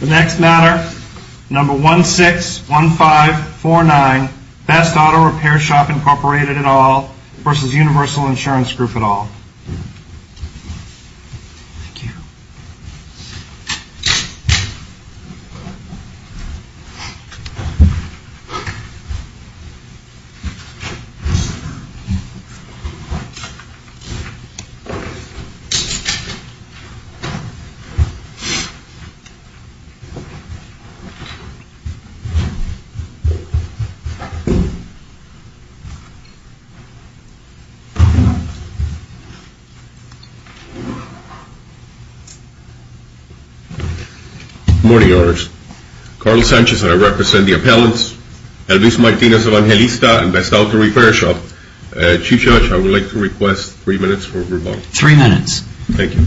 The next matter, number 161549, Best Auto Repair Shop, Incorporated, et al. v. Universal Insurance Group, et al. Good morning, Your Honors. Carl Sanchez and I represent the appellants, Elvis Martinez-Evangelista and Best Auto Repair Shop. Chief Judge, I would like to request three minutes for rebuttal. Three minutes. Thank you.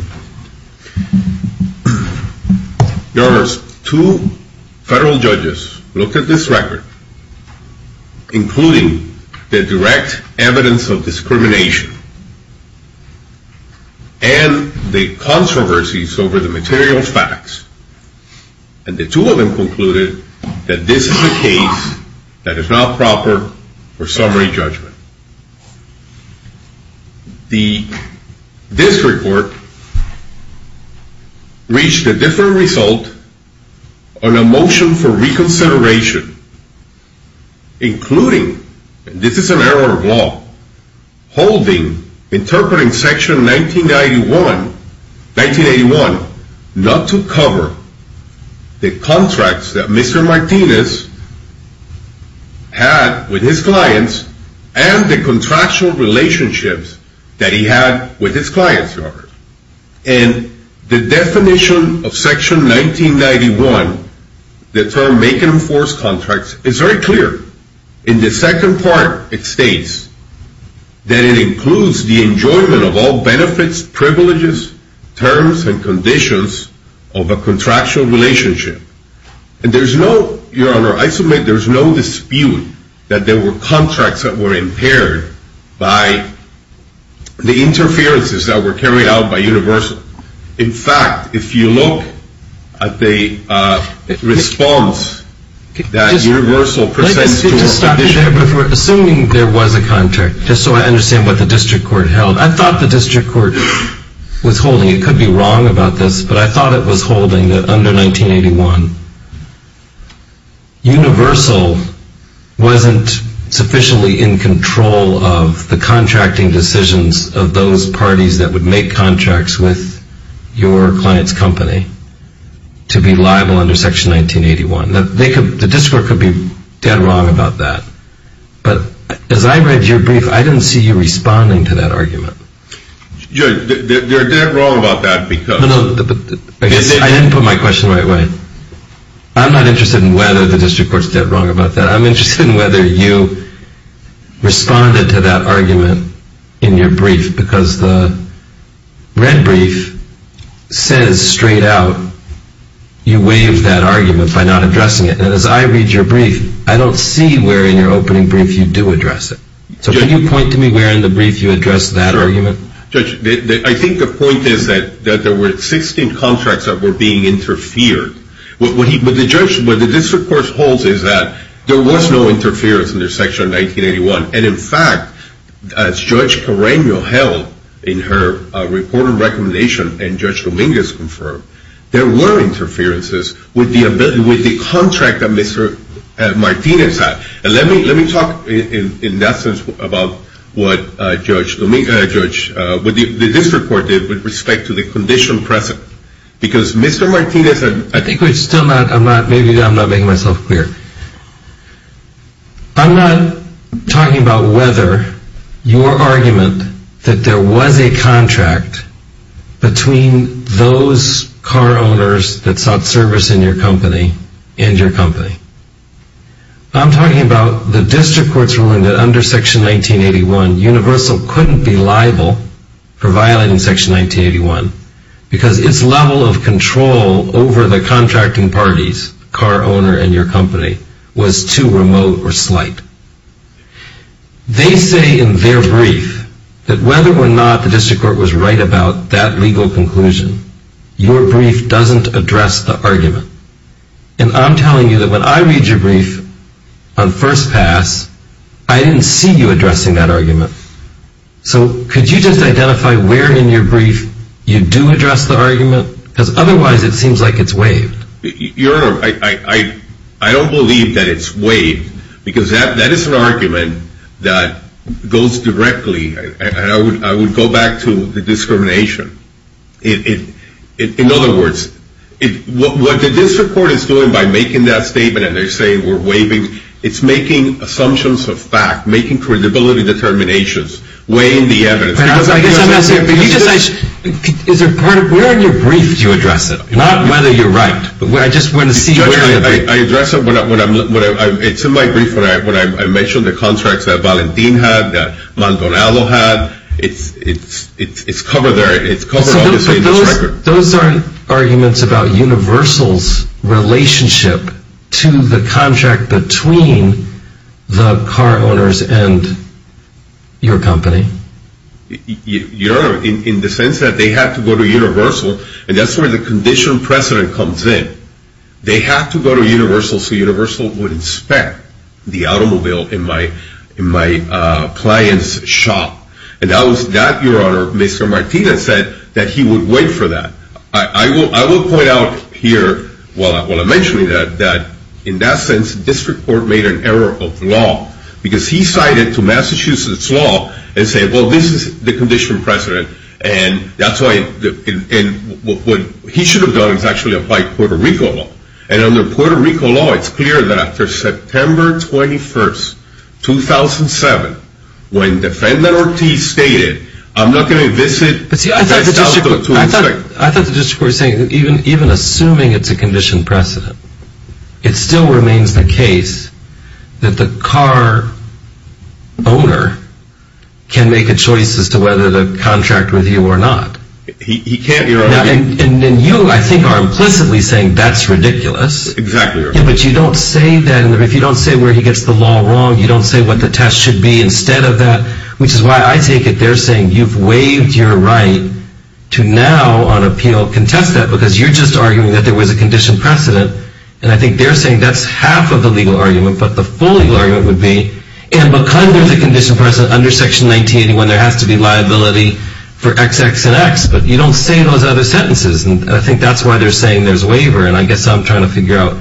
Your Honors, two federal judges looked at this record, including the direct evidence of discrimination and the controversies over the material facts, and the two of them concluded that this is a case that is not proper for summary judgment. The district court reached a different result on a motion for reconsideration, including, and this is an error of law, holding, interpreting Section 1981 not to cover the contracts that Mr. Martinez had with his clients and the contractual relationships that he had with his clients, Your Honors. And the definition of Section 1991, the term make and enforce contracts, is very clear. In the second part, it states that it includes the enjoyment of all benefits, privileges, terms, and conditions of a contractual relationship. And there's no, Your Honor, I submit there's no dispute that there were contracts that were impaired by the interferences that were carried out by Universal. In fact, if you look at the response that Universal presents to our condition. Let me just stop you there, assuming there was a contract, just so I understand what the district court held. I thought the district court was holding, it could be wrong about this, but I thought it was holding that under 1981, Universal wasn't sufficiently in control of the contracting decisions of those parties that would make contracts with your client's company to be liable under Section 1981. The district court could be dead wrong about that. But as I read your brief, I didn't see you responding to that argument. They're dead wrong about that because... I didn't put my question the right way. I'm not interested in whether the district court's dead wrong about that. I'm interested in whether you responded to that argument in your brief because the red brief says straight out you waived that argument by not addressing it. And as I read your brief, I don't see where in your opening brief you do address it. So can you point to me where in the brief you address that argument? Judge, I think the point is that there were 16 contracts that were being interfered. What the district court holds is that there was no interference under Section 1981. And in fact, as Judge Carreño held in her report of recommendation and Judge Dominguez confirmed, there were interferences with the contract that Mr. Martinez had. And let me talk in that sense about what the district court did with respect to the condition present. Because Mr. Martinez... I think we're still not, maybe I'm not making myself clear. I'm not talking about whether your argument that there was a contract between those car owners that sought service in your company and your company. I'm talking about the district court's ruling that under Section 1981, Universal couldn't be liable for violating Section 1981. Because its level of control over the contracting parties, car owner and your company, was too remote or slight. They say in their brief that whether or not the district court was right about that legal conclusion, your brief doesn't address the argument. And I'm telling you that when I read your brief on first pass, I didn't see you addressing that argument. So could you just identify where in your brief you do address the argument? Because otherwise it seems like it's waived. Your Honor, I don't believe that it's waived. Because that is an argument that goes directly, and I would go back to the discrimination. In other words, what the district court is doing by making that statement and they're saying we're waiving, it's making assumptions of fact, making credibility determinations, weighing the evidence. Where in your brief do you address it? Not whether you're right, but I just want to see where in your brief. It's in my brief when I mentioned the contracts that Valentin had, that Maldonado had. It's covered there. It's covered obviously in this record. Your Honor, those aren't arguments about Universal's relationship to the contract between the car owners and your company. Your Honor, in the sense that they have to go to Universal, and that's where the conditional precedent comes in. They have to go to Universal so Universal would inspect the automobile in my client's shop. And that was that, Your Honor, Mr. Martinez said, that he would wait for that. I will point out here, while I'm mentioning that, that in that sense, district court made an error of law. Because he cited to Massachusetts law and said, well, this is the conditional precedent. And that's why, and what he should have done is actually apply Puerto Rico law. And under Puerto Rico law, it's clear that after September 21st, 2007, when defendant Ortiz stated, I'm not going to visit. I thought the district court was saying that even assuming it's a conditioned precedent, it still remains the case that the car owner can make a choice as to whether to contract with you or not. And you, I think, are implicitly saying that's ridiculous. Exactly, Your Honor. But you don't say that, and if you don't say where he gets the law wrong, you don't say what the test should be instead of that, which is why I take it they're saying you've waived your right to now on appeal contest that because you're just arguing that there was a conditioned precedent. And I think they're saying that's half of the legal argument, but the full legal argument would be, and because there's a conditioned precedent under Section 1981, there has to be liability for XX and X, but you don't say those other sentences, and I think that's why they're saying there's a waiver. And I guess I'm trying to figure out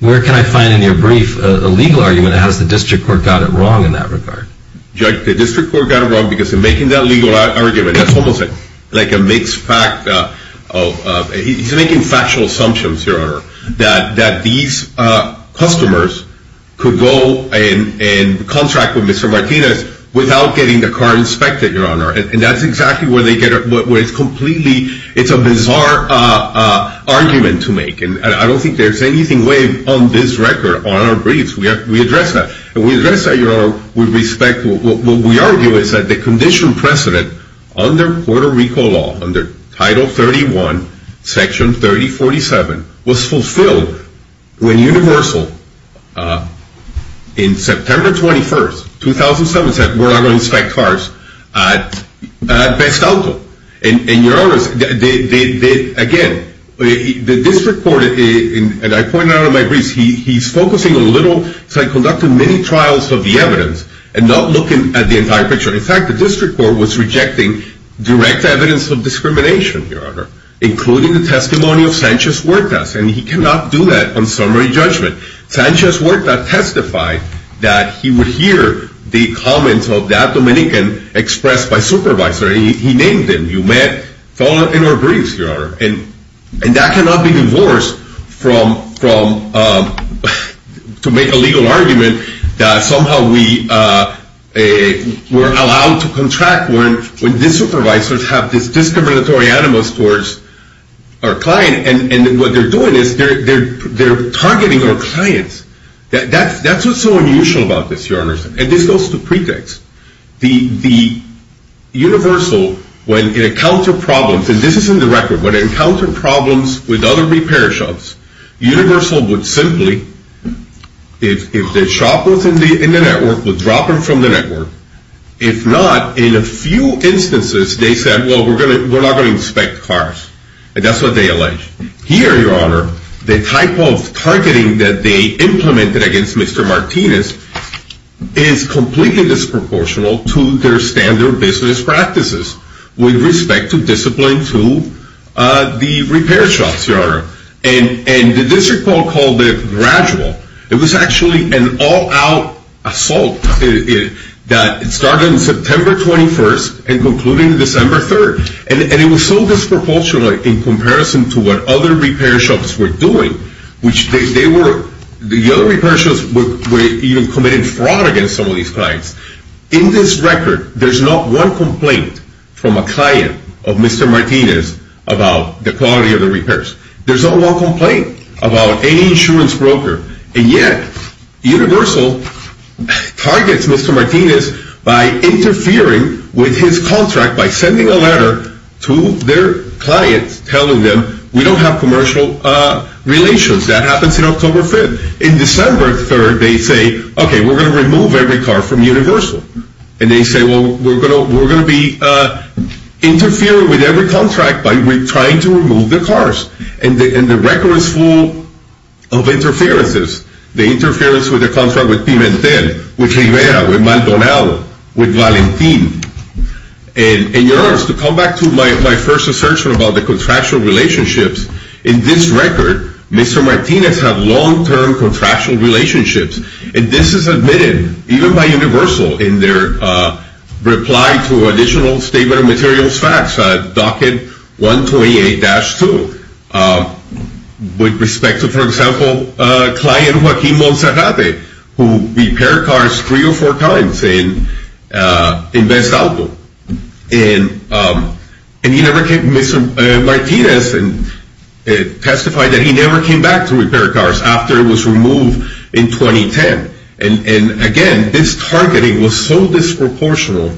where can I find in your brief a legal argument that has the district court got it wrong in that regard. Judge, the district court got it wrong because in making that legal argument, that's almost like a mixed fact of, he's making factual assumptions, Your Honor, that these customers could go and contract with Mr. Martinez without getting the car inspected, Your Honor, and that's exactly where they get it, where it's completely, it's a bizarre argument to make, and I don't think there's anything waived on this record, on our briefs. We address that, and we address that, Your Honor, with respect. What we argue is that the conditioned precedent under Puerto Rico law, under Title 31, Section 3047, was fulfilled when Universal, in September 21st, 2007, said we're not going to inspect cars at Best Auto. And Your Honor, again, the district court, and I pointed out in my briefs, he's focusing a little, conducting mini-trials of the evidence, and not looking at the entire picture. In fact, the district court was rejecting direct evidence of discrimination, Your Honor, including the testimony of Sanchez Huerta, and he cannot do that on summary judgment. Sanchez Huerta testified that he would hear the comments of that Dominican expressed by supervisor, and he named them, you met, followed in our briefs, Your Honor, and that cannot be divorced from, to make a legal argument that somehow we're allowed to contract when these supervisors have this discriminatory animus towards our client, and what they're doing is they're targeting our clients. That's what's so unusual about this, Your Honor, and this goes to pretext. The Universal, when it encountered problems, and this is in the record, when it encountered problems with other repair shops, Universal would simply, if the shop was in the network, would drop them from the network. If not, in a few instances, they said, well, we're not going to inspect cars, and that's what they alleged. Here, Your Honor, the type of targeting that they implemented against Mr. Martinez is completely disproportional to their standard business practices with respect to discipline to the repair shops, Your Honor, and the district court called it gradual. It was actually an all-out assault that started on September 21st and concluded December 3rd, and it was so disproportional in comparison to what other repair shops were doing, which the other repair shops were even committing fraud against some of these clients. In this record, there's not one complaint from a client of Mr. Martinez about the quality of the repairs. There's not one complaint about any insurance broker, and yet Universal targets Mr. Martinez by interfering with his contract by sending a letter to their clients telling them, we don't have commercial relations. That happens in October 5th. In December 3rd, they say, okay, we're going to remove every car from Universal, and they say, well, we're going to be interfering with every contract by trying to remove the cars, and the record is full of interferences. The interference with the contract with Pimentel, with Rivera, with Maldonado, with Valentin. And, Your Honor, to come back to my first assertion about the contractual relationships, in this record, Mr. Martinez had long-term contractual relationships, and this is admitted even by Universal in their reply to additional statement of materials facts, docket 128-2, with respect to, for example, client Joaquin Monserrate, who repaired cars three or four times in Bestalco. And Mr. Martinez testified that he never came back to repair cars after it was removed in 2010. And, again, this targeting was so disproportional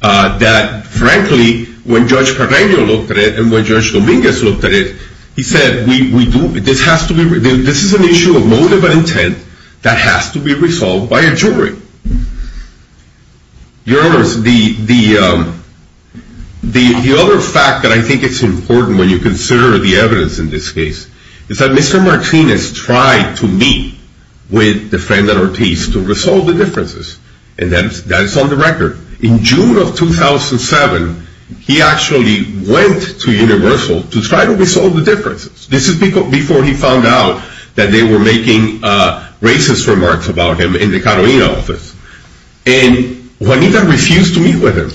that, frankly, when Judge Carreño looked at it and when Judge Dominguez looked at it, he said, this is an issue of motive and intent that has to be resolved by a jury. Your Honors, the other fact that I think is important when you consider the evidence in this case is that Mr. Martinez tried to meet with the friend at Ortiz to resolve the differences, and that is on the record. In June of 2007, he actually went to Universal to try to resolve the differences. This is before he found out that they were making racist remarks about him in the Carolina office. And Juanita refused to meet with him.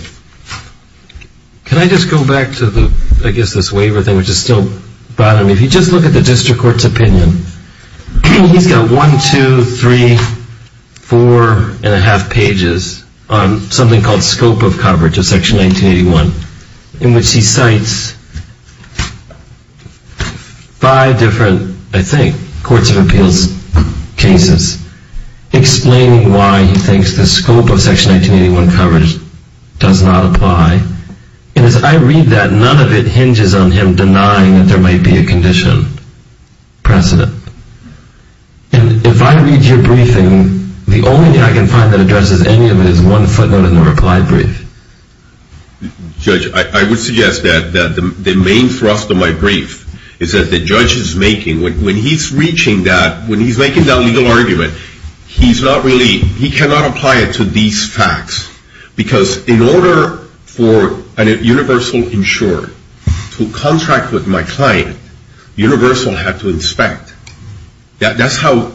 Can I just go back to, I guess, this waiver thing, which is still bothering me? If you just look at the district court's opinion, he's got one, two, three, four and a half pages on something called scope of coverage of Section 1981, in which he cites five different, I think, courts of appeals cases, explaining why he thinks the scope of Section 1981 coverage does not apply. And as I read that, none of it hinges on him denying that there might be a condition precedent. And if I read your briefing, the only thing I can find that addresses any of it is one footnote in the reply brief. Judge, I would suggest that the main thrust of my brief is that the judge is making, when he's reaching that, when he's making that legal argument, he's not really, he cannot apply it to these facts. Because in order for a universal insurer to contract with my client, universal had to inspect. That's how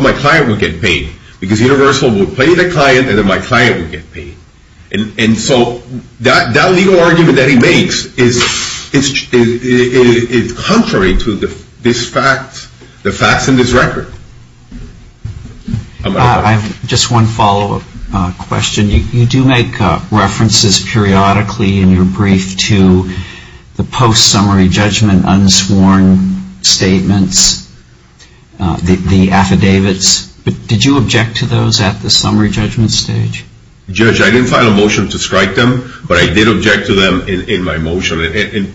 my client would get paid. Because universal would pay the client, and then my client would get paid. And so that legal argument that he makes is contrary to this fact, the facts in this record. I have just one follow-up question. You do make references periodically in your brief to the post-summary judgment unsworn statements, the affidavits. Did you object to those at the summary judgment stage? Judge, I didn't file a motion to strike them, but I did object to them in my motion. I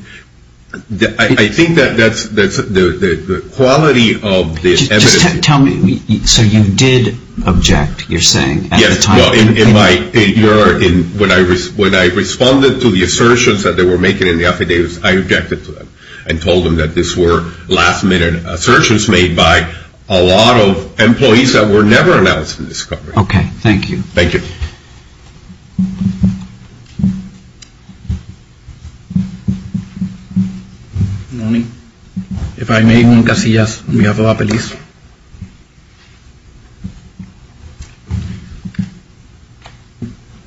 think that's the quality of the evidence. Just tell me, so you did object, you're saying, at the time? Yes, well, in my paper, when I responded to the assertions that they were making in the affidavits, I objected to them. I told them that these were last-minute assertions made by a lot of employees that were never announced in this coverage. Okay, thank you. Thank you. Good morning. If I may, Juan Casillas, on behalf of APELIS.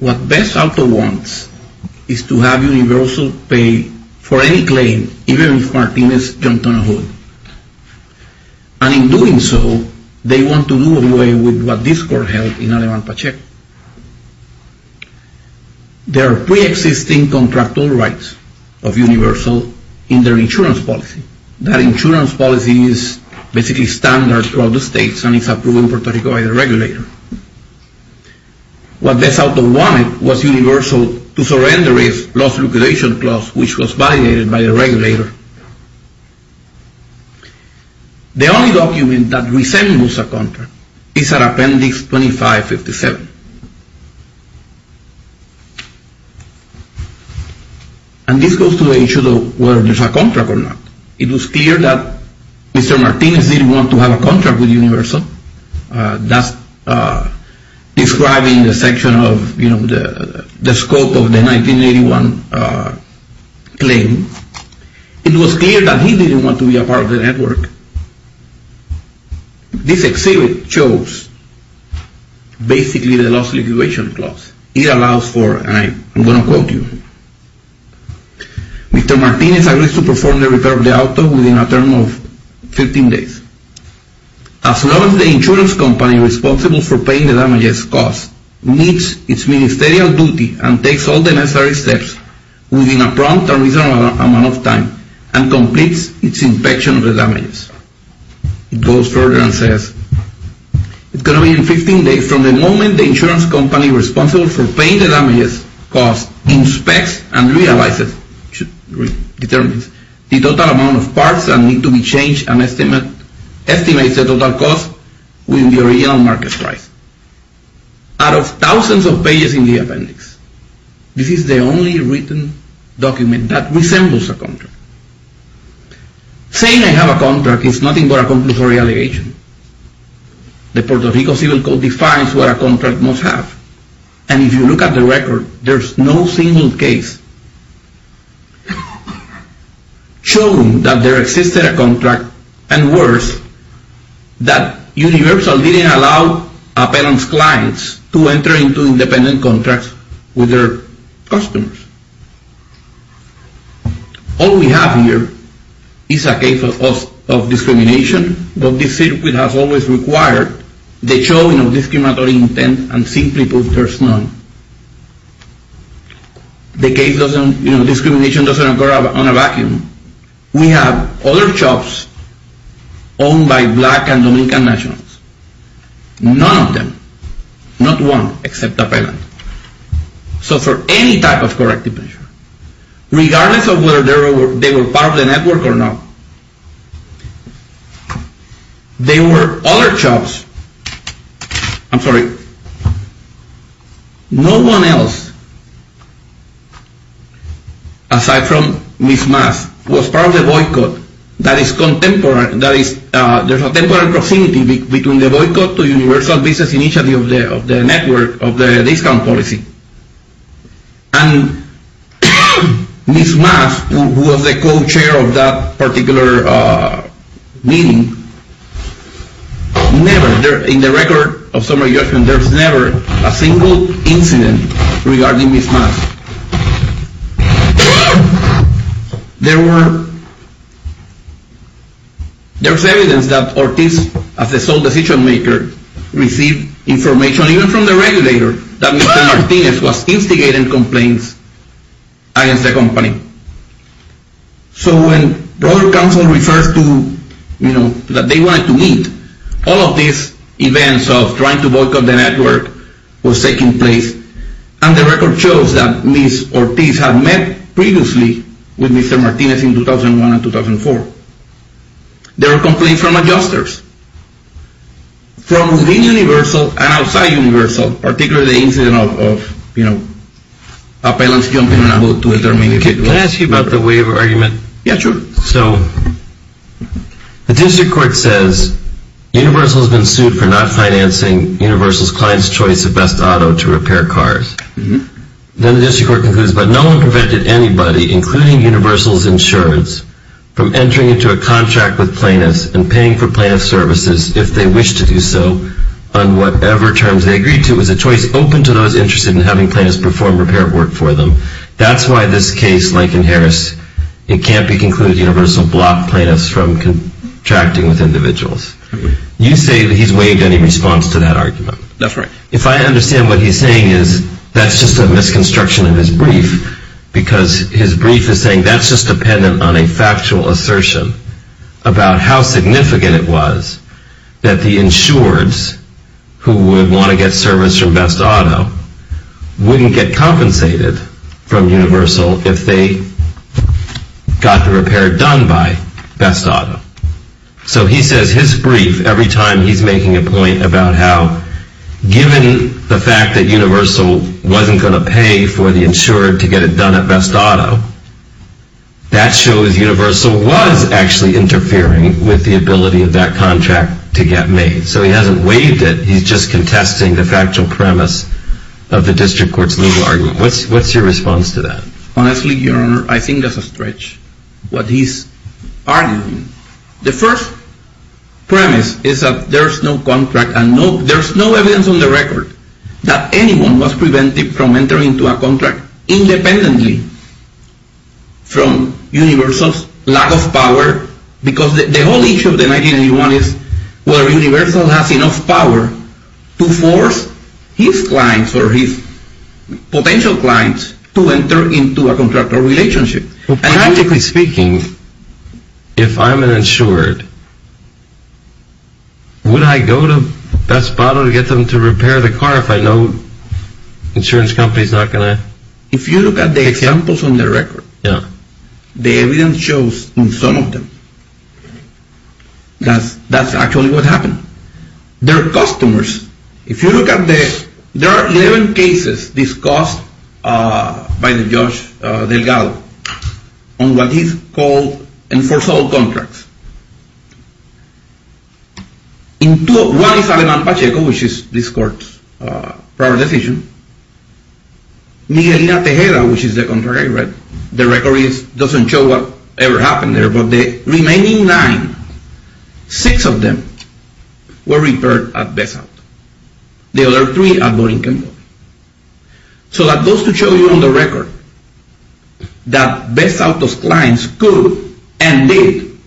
What BESALTO wants is to have universal pay for any claim, even if Martinez jumped on a hood. And in doing so, they want to do away with what this court held in Aleman Pacheco. There are pre-existing contractual rights of universal in their insurance policy. That insurance policy is basically standard throughout the states, and it's approved in Puerto Rico by the regulator. What BESALTO wanted was universal to surrender its loss liquidation clause, which was validated by the regulator. The only document that resembles a contract is at Appendix 2557. And this goes to the issue of whether there's a contract or not. It was clear that Mr. Martinez didn't want to have a contract with universal. That's describing the section of, you know, the scope of the 1981 claim. It was clear that he didn't want to be a part of the network. This exhibit shows basically the loss liquidation clause. It allows for, and I'm going to quote you, Mr. Martinez agrees to perform the repair of the auto within a term of 15 days. As long as the insurance company responsible for paying the damages cost meets its ministerial duty and takes all the necessary steps within a prompt and reasonable amount of time and completes its inspection of the damages. It goes further and says, It's going to be in 15 days from the moment the insurance company responsible for paying the damages cost inspects and realizes, determines the total amount of parts that need to be changed and estimates the total cost within the original market price. Out of thousands of pages in the appendix, this is the only written document that resembles a contract. Saying I have a contract is nothing but a compulsory allegation. The Puerto Rico Civil Code defines what a contract must have. And if you look at the record, there's no single case showing that there existed a contract and worse, that universal didn't allow appellant's clients to enter into independent contracts with their customers. All we have here is a case of discrimination, but this circuit has always required the showing of discriminatory intent and simply put, there's none. The case doesn't, you know, discrimination doesn't occur on a vacuum. We have other jobs owned by black and Dominican nationals. None of them, not one, except appellant. So for any type of corrective measure, regardless of whether they were part of the network or not, there were other jobs, I'm sorry, no one else, aside from Ms. Mass, was part of the boycott that is contemporary, that is, there's a temporary proximity between the boycott to universal business initiative of the network, of the discount policy. And Ms. Mass, who was the co-chair of that particular meeting, never, in the record of summary judgment, there's never a single incident regarding Ms. Mass. There were, there's evidence that Ortiz, as the sole decision maker, received information even from the regulator that Mr. Martinez was instigating complaints against the company. So when broader counsel refers to, you know, that they wanted to meet, all of these events of trying to boycott the network was taking place, and the record shows that Ms. Ortiz had met previously with Mr. Martinez in 2001 and 2004. There were complaints from adjusters, from within universal and outside universal, particularly the incident of, you know, appellants jumping in and out. Can I ask you about the waiver argument? Yeah, sure. So, the district court says, universal has been sued for not financing universal's client's choice of best auto to repair cars. Then the district court concludes, but no one prevented anybody, including universal's insurance, from entering into a contract with plaintiffs and paying for plaintiff's services, if they wished to do so, on whatever terms they agreed to. It was a choice open to those interested in having plaintiffs perform repair work for them. That's why this case, Lincoln-Harris, it can't be concluded that universal blocked plaintiffs from contracting with individuals. You say that he's waived any response to that argument. That's right. If I understand what he's saying, that's just a misconstruction of his brief, because his brief is saying that's just dependent on a factual assertion about how significant it was that the insureds, who would want to get service from best auto, wouldn't get compensated from universal if they got the repair done by best auto. So he says his brief, every time he's making a point about how, given the fact that universal wasn't going to pay for the insured to get it done at best auto, that shows universal was actually interfering with the ability of that contract to get made. So he hasn't waived it. He's just contesting the factual premise of the district court's legal argument. What's your response to that? Honestly, Your Honor, I think that's a stretch, what he's arguing. The first premise is that there's no contract and there's no evidence on the record that anyone was prevented from entering into a contract independently from universal's lack of power, because the whole issue of the 1981 is whether universal has enough power to force his clients or his potential clients to enter into a contractual relationship. Practically speaking, if I'm an insured, would I go to best auto to get them to repair the car if I know the insurance company's not going to... The evidence shows on some of them that's actually what happened. Their customers, if you look at the... There are 11 cases discussed by the judge Delgado on what he's called enforceable contracts. One is Aleman Pacheco, which is this court's prior decision. Miguelina Tejeda, which is the contract, right? The record doesn't show what ever happened there, but the remaining nine, six of them were repaired at best auto. The other three are boarding company. So that goes to show you on the record that best auto's clients could and did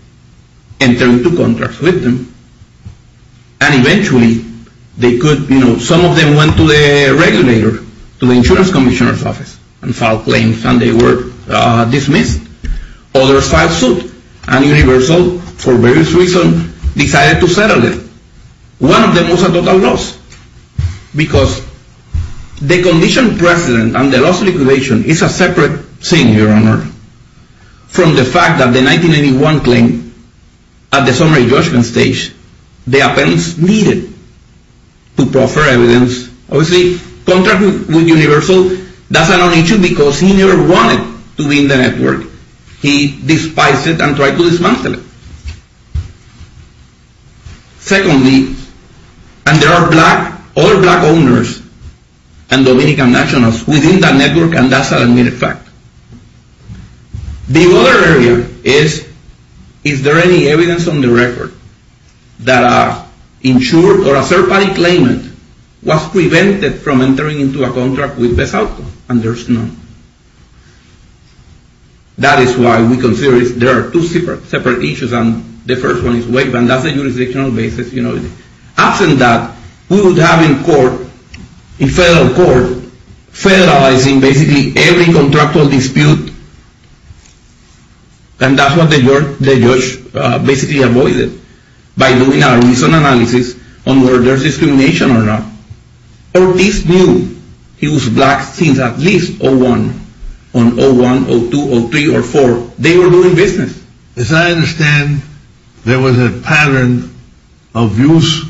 enter into contracts with them, and eventually they could... Some of them went to the regulator, to the insurance commissioner's office, and filed claims, and they were dismissed. Others filed suit, and universal, for various reasons, decided to settle them. One of them was a total loss, because the condition precedent and the loss of liquidation is a separate thing, Your Honor, from the fact that the 1991 claim, at the summary judgment stage, the appendix needed to proffer evidence. Obviously, contracting with universal, that's an issue because he never wanted to be in the network. He despised it and tried to dismantle it. Secondly, and there are black, all black owners, and Dominican nationals, within that network, and that's an admitted fact. The other area is, is there any evidence on the record that a insured or a third-party claimant was prevented from entering into a contract with best auto, and there's none. That is why we consider there are two separate issues, and the first one is waiver, and that's a jurisdictional basis. After that, we would have in court, in federal court, federalizing basically every contractual dispute, and that's what the judge basically avoided by doing a reason analysis on whether there's discrimination or not. Or this new, he was black since at least 01, on 01, 02, 03, or 04. They were doing business. As I understand, there was a pattern of use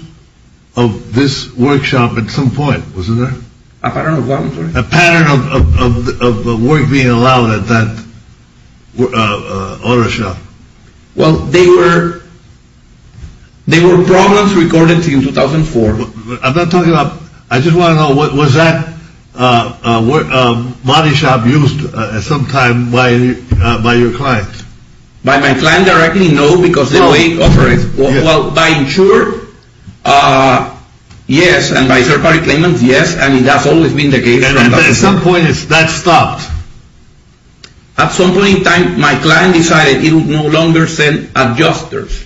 of this workshop at some point, wasn't there? A pattern of what, I'm sorry? A pattern of work being allowed at that auto shop. Well, they were, they were problems recorded in 2004. I'm not talking about, I just want to know, was that body shop used at some time by your client? By my client directly, no, because the way it operates. Well, by insurer, yes, and by third-party claimant, yes, and that's always been the case. And at some point, that stopped? At some point in time, my client decided he would no longer send adjusters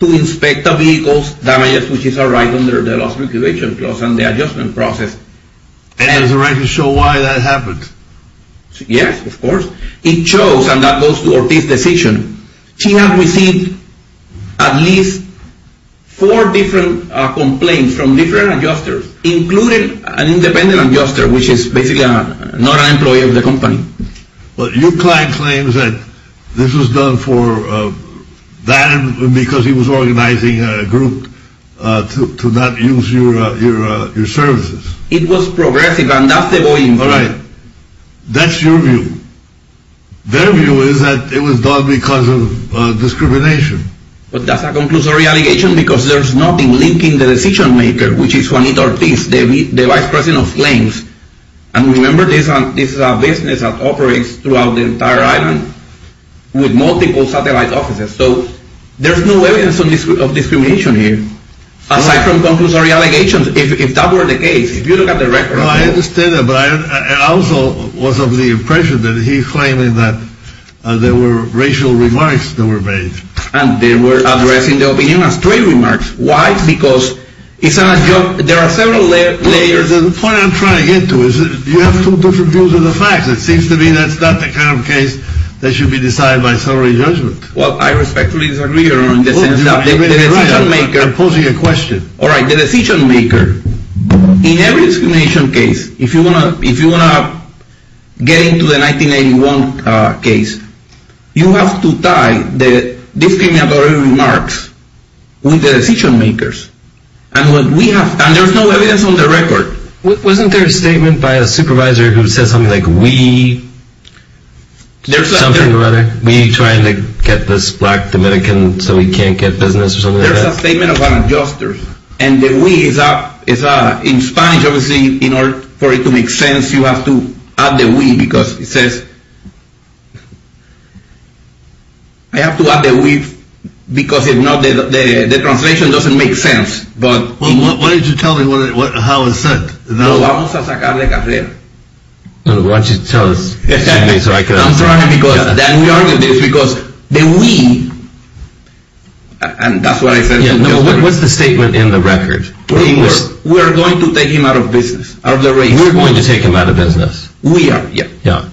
to inspect the vehicle's damages, which is a right under the loss reclamation clause and the adjustment process. And there's a right to show why that happened? Yes, of course. It shows, and that goes to Ortiz's decision. She had received at least four different complaints from different adjusters, including an independent adjuster, which is basically not an employee of the company. Well, your client claims that this was done for that, and because he was organizing a group to not use your services. It was progressive, and that's the point. All right, that's your view. Their view is that it was done because of discrimination. But that's a conclusory allegation because there's nothing linking the decision maker, which is Juanita Ortiz, the vice president of claims. And remember, this is a business that operates throughout the entire island with multiple satellite offices. So there's no evidence of discrimination here, aside from conclusory allegations. If that were the case, if you look at the record. Well, I understand that. But I also was of the impression that he's claiming that there were racial remarks that were made. And they were addressing the opinion as straight remarks. Why? Because there are several layers. The point I'm trying to get to is you have two different views of the facts. It seems to me that's not the kind of case that should be decided by summary judgment. Well, I respectfully disagree. I'm posing a question. All right, the decision maker. In every discrimination case, if you want to get into the 1981 case, you have to tie the discriminatory remarks with the decision makers. And there's no evidence on the record. Wasn't there a statement by a supervisor who said something like, we trying to get this black Dominican so we can't get business or something like that? There's a statement about adjusters. And the we, in Spanish, obviously, in order for it to make sense, you have to add the we because it says, I have to add the we because if not, the translation doesn't make sense. Why don't you tell me how it's said? Vamos a sacar la carrera. Why don't you tell me so I can understand. Then we argue this because the we, and that's what I said. What's the statement in the record? We're going to take him out of business. We're going to take him out of business. We are, yeah.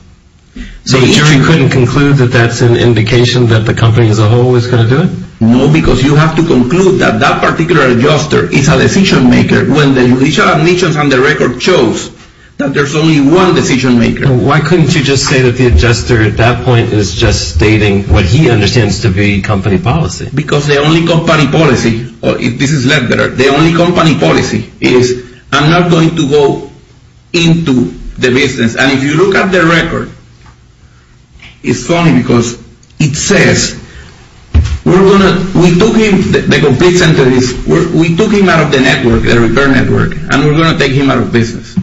So you couldn't conclude that that's an indication that the company as a whole is going to do it? No, because you have to conclude that that particular adjuster is a decision maker when the judicial admissions on the record shows that there's only one decision maker. Why couldn't you just say that the adjuster, at that point, is just stating what he understands to be company policy? Because the only company policy, if this is led better, the only company policy is I'm not going to go into the business. And if you look at the record, it's funny because it says we're going to, we took him, the complete sentence is we took him out of the network, the repair network, and we're going to take him out of business.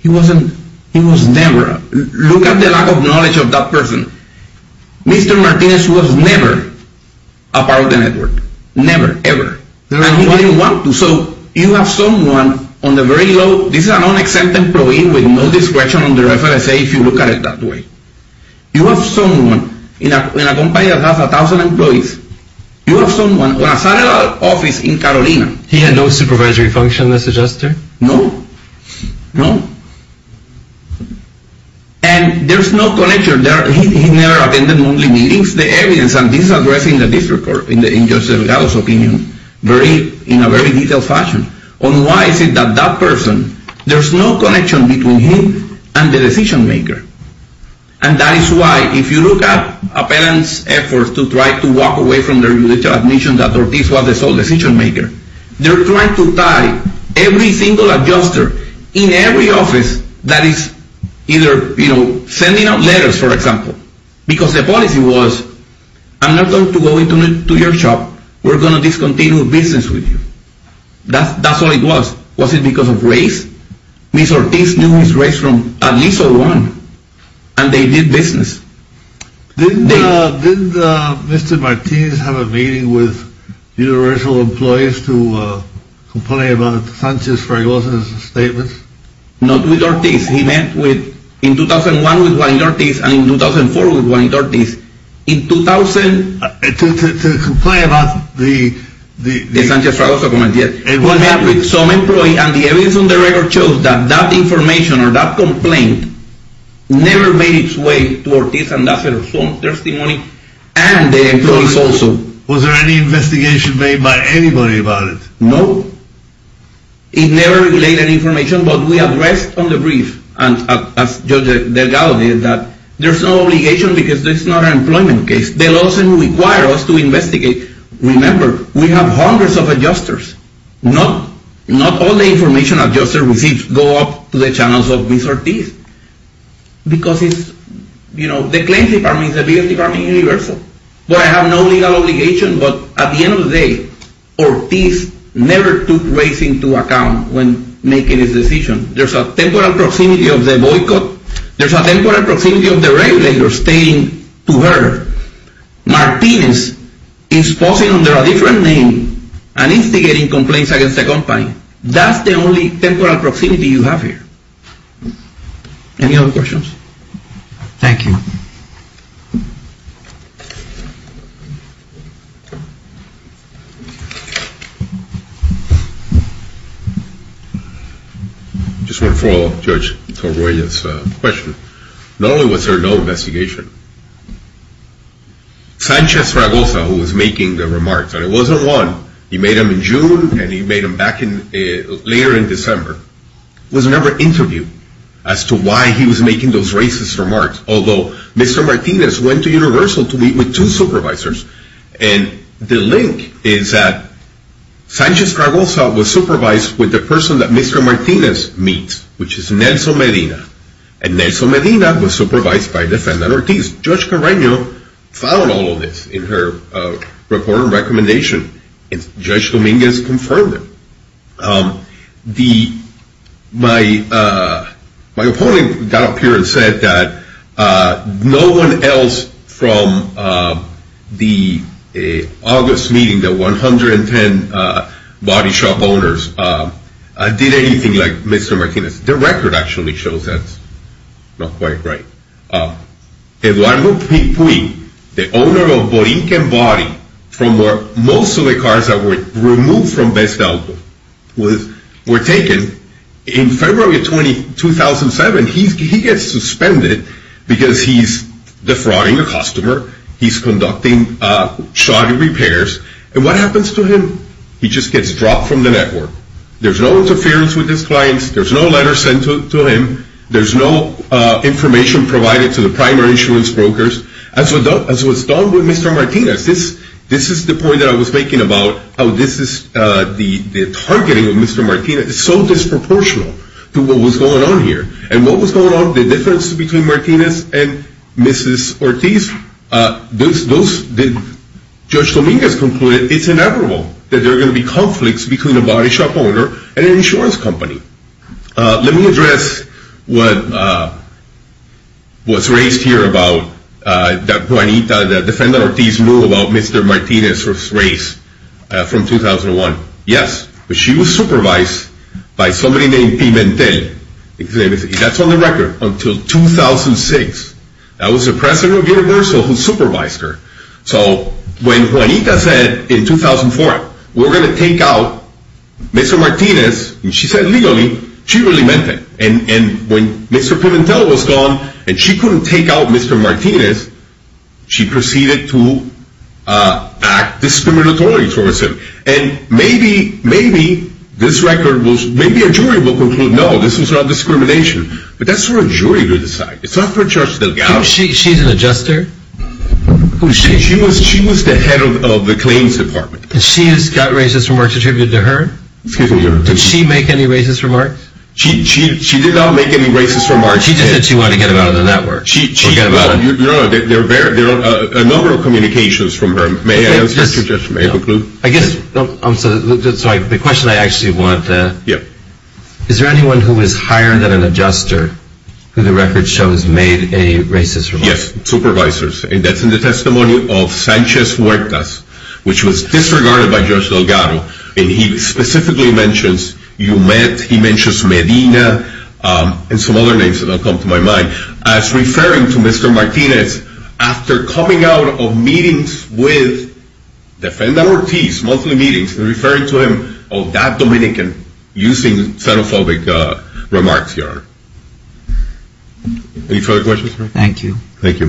He wasn't, he was never, look at the lack of knowledge of that person. Mr. Martinez was never a part of the network. Never, ever. And he wouldn't want to. So you have someone on the very low, this is an unaccepted employee with no discretion under FSA if you look at it that way. You have someone in a company that has 1,000 employees. You have someone in a satellite office in Carolina. He had no supervisory function as adjuster? No. No. And there's no connection. He never attended monthly meetings. The evidence, and this is addressed in the district court, in Judge Delgado's opinion, in a very detailed fashion, on why is it that that person, there's no connection between him and the decision maker. And that is why if you look at a parent's effort to try to walk away from their judicial admission that Ortiz was the sole decision maker, they're trying to tie every single adjuster in every office that is either, you know, sending out letters, for example. Because the policy was, I'm not going to go into your shop. We're going to discontinue business with you. That's all it was. Was it because of race? Mr. Ortiz knew his race from at least 01, and they did business. Didn't Mr. Ortiz have a meeting with universal employees to complain about Sanchez-Fragoza's statements? Not with Ortiz. He met in 2001 with Juanito Ortiz and in 2004 with Juanito Ortiz. In 2000... To complain about the... The Sanchez-Fragoza comment, yes. What happened, some employee, and the evidence on the record shows that that information or that complaint never made its way to Ortiz, and that's a strong testimony, and the employees also. Was there any investigation made by anybody about it? No. It never relayed any information, but we addressed on the brief, and as Judge Delgado did, that there's no obligation because this is not an employment case. They'll also require us to investigate. Remember, we have hundreds of adjusters. Not all the information adjusters receive go up to the channels of Mr. Ortiz because it's, you know, the claims department is the biggest department in Universal. But I have no legal obligation, but at the end of the day, Ortiz never took race into account when making his decision. There's a temporal proximity of the boycott. There's a temporal proximity of the regulator stating to her, Martinez is posing under a different name and instigating complaints against the company. That's the only temporal proximity you have here. Any other questions? Thank you. I just want to follow up Judge Torbuella's question. Not only was there no investigation, Sanchez-Fragosa, who was making the remarks, and it wasn't one. He made them in June, and he made them back later in December. There was never an interview as to why he was making those racist remarks, although Mr. Martinez went to Universal to meet with two supervisors, and the link is that Sanchez-Fragosa was supervised with the person that Mr. Martinez meets, which is Nelson Medina. And Nelson Medina was supervised by Defendant Ortiz. Judge Carreno found all of this in her report and recommendation, and Judge Dominguez confirmed it. My opponent got up here and said that no one else from the August meeting, the 110 body shop owners, did anything like Mr. Martinez. The record actually shows that's not quite right. Eduardo Pui, the owner of Borinquen Body, from where most of the cars that were removed from Best Auto were taken, in February 2007, he gets suspended because he's defrauding a customer, he's conducting shoddy repairs, and what happens to him? He just gets dropped from the network. There's no interference with his clients, there's no letters sent to him, there's no information provided to the primary insurance brokers. As was done with Mr. Martinez, this is the point that I was making about how the targeting of Mr. Martinez is so disproportional to what was going on here. And what was going on, the difference between Martinez and Mrs. Ortiz, Judge Dominguez concluded it's inevitable that there are going to be conflicts between a body shop owner and an insurance company. Let me address what's raised here about that Juanita, the defendant Ortiz rule about Mr. Martinez was raised from 2001. Yes, but she was supervised by somebody named Pimentel. That's on the record until 2006. That was the president of Universal who supervised her. So when Juanita said in 2004, we're going to take out Mr. Martinez, and she said legally, she really meant it. And when Mr. Pimentel was gone and she couldn't take out Mr. Martinez, she proceeded to act discriminatory towards him. And maybe a jury will conclude, no, this was not discrimination. But that's for a jury to decide. It's not for Judge Delgado. She's an adjuster? She was the head of the claims department. And she's got racist remarks attributed to her? Excuse me. Did she make any racist remarks? She did not make any racist remarks. She just said she wanted to get him out of the network. There are a number of communications from her. I guess the question I actually want to ask, is there anyone who is higher than an adjuster who the record shows made a racist remark? Yes, supervisors. And that's in the testimony of Sanchez Huertas, which was disregarded by Judge Delgado. And he specifically mentions Medina and some other names that don't come to my mind as referring to Mr. Martinez after coming out of meetings with Defendant Ortiz, monthly meetings, and referring to him, oh, that Dominican, using xenophobic remarks here. Any further questions? Thank you. Thank you.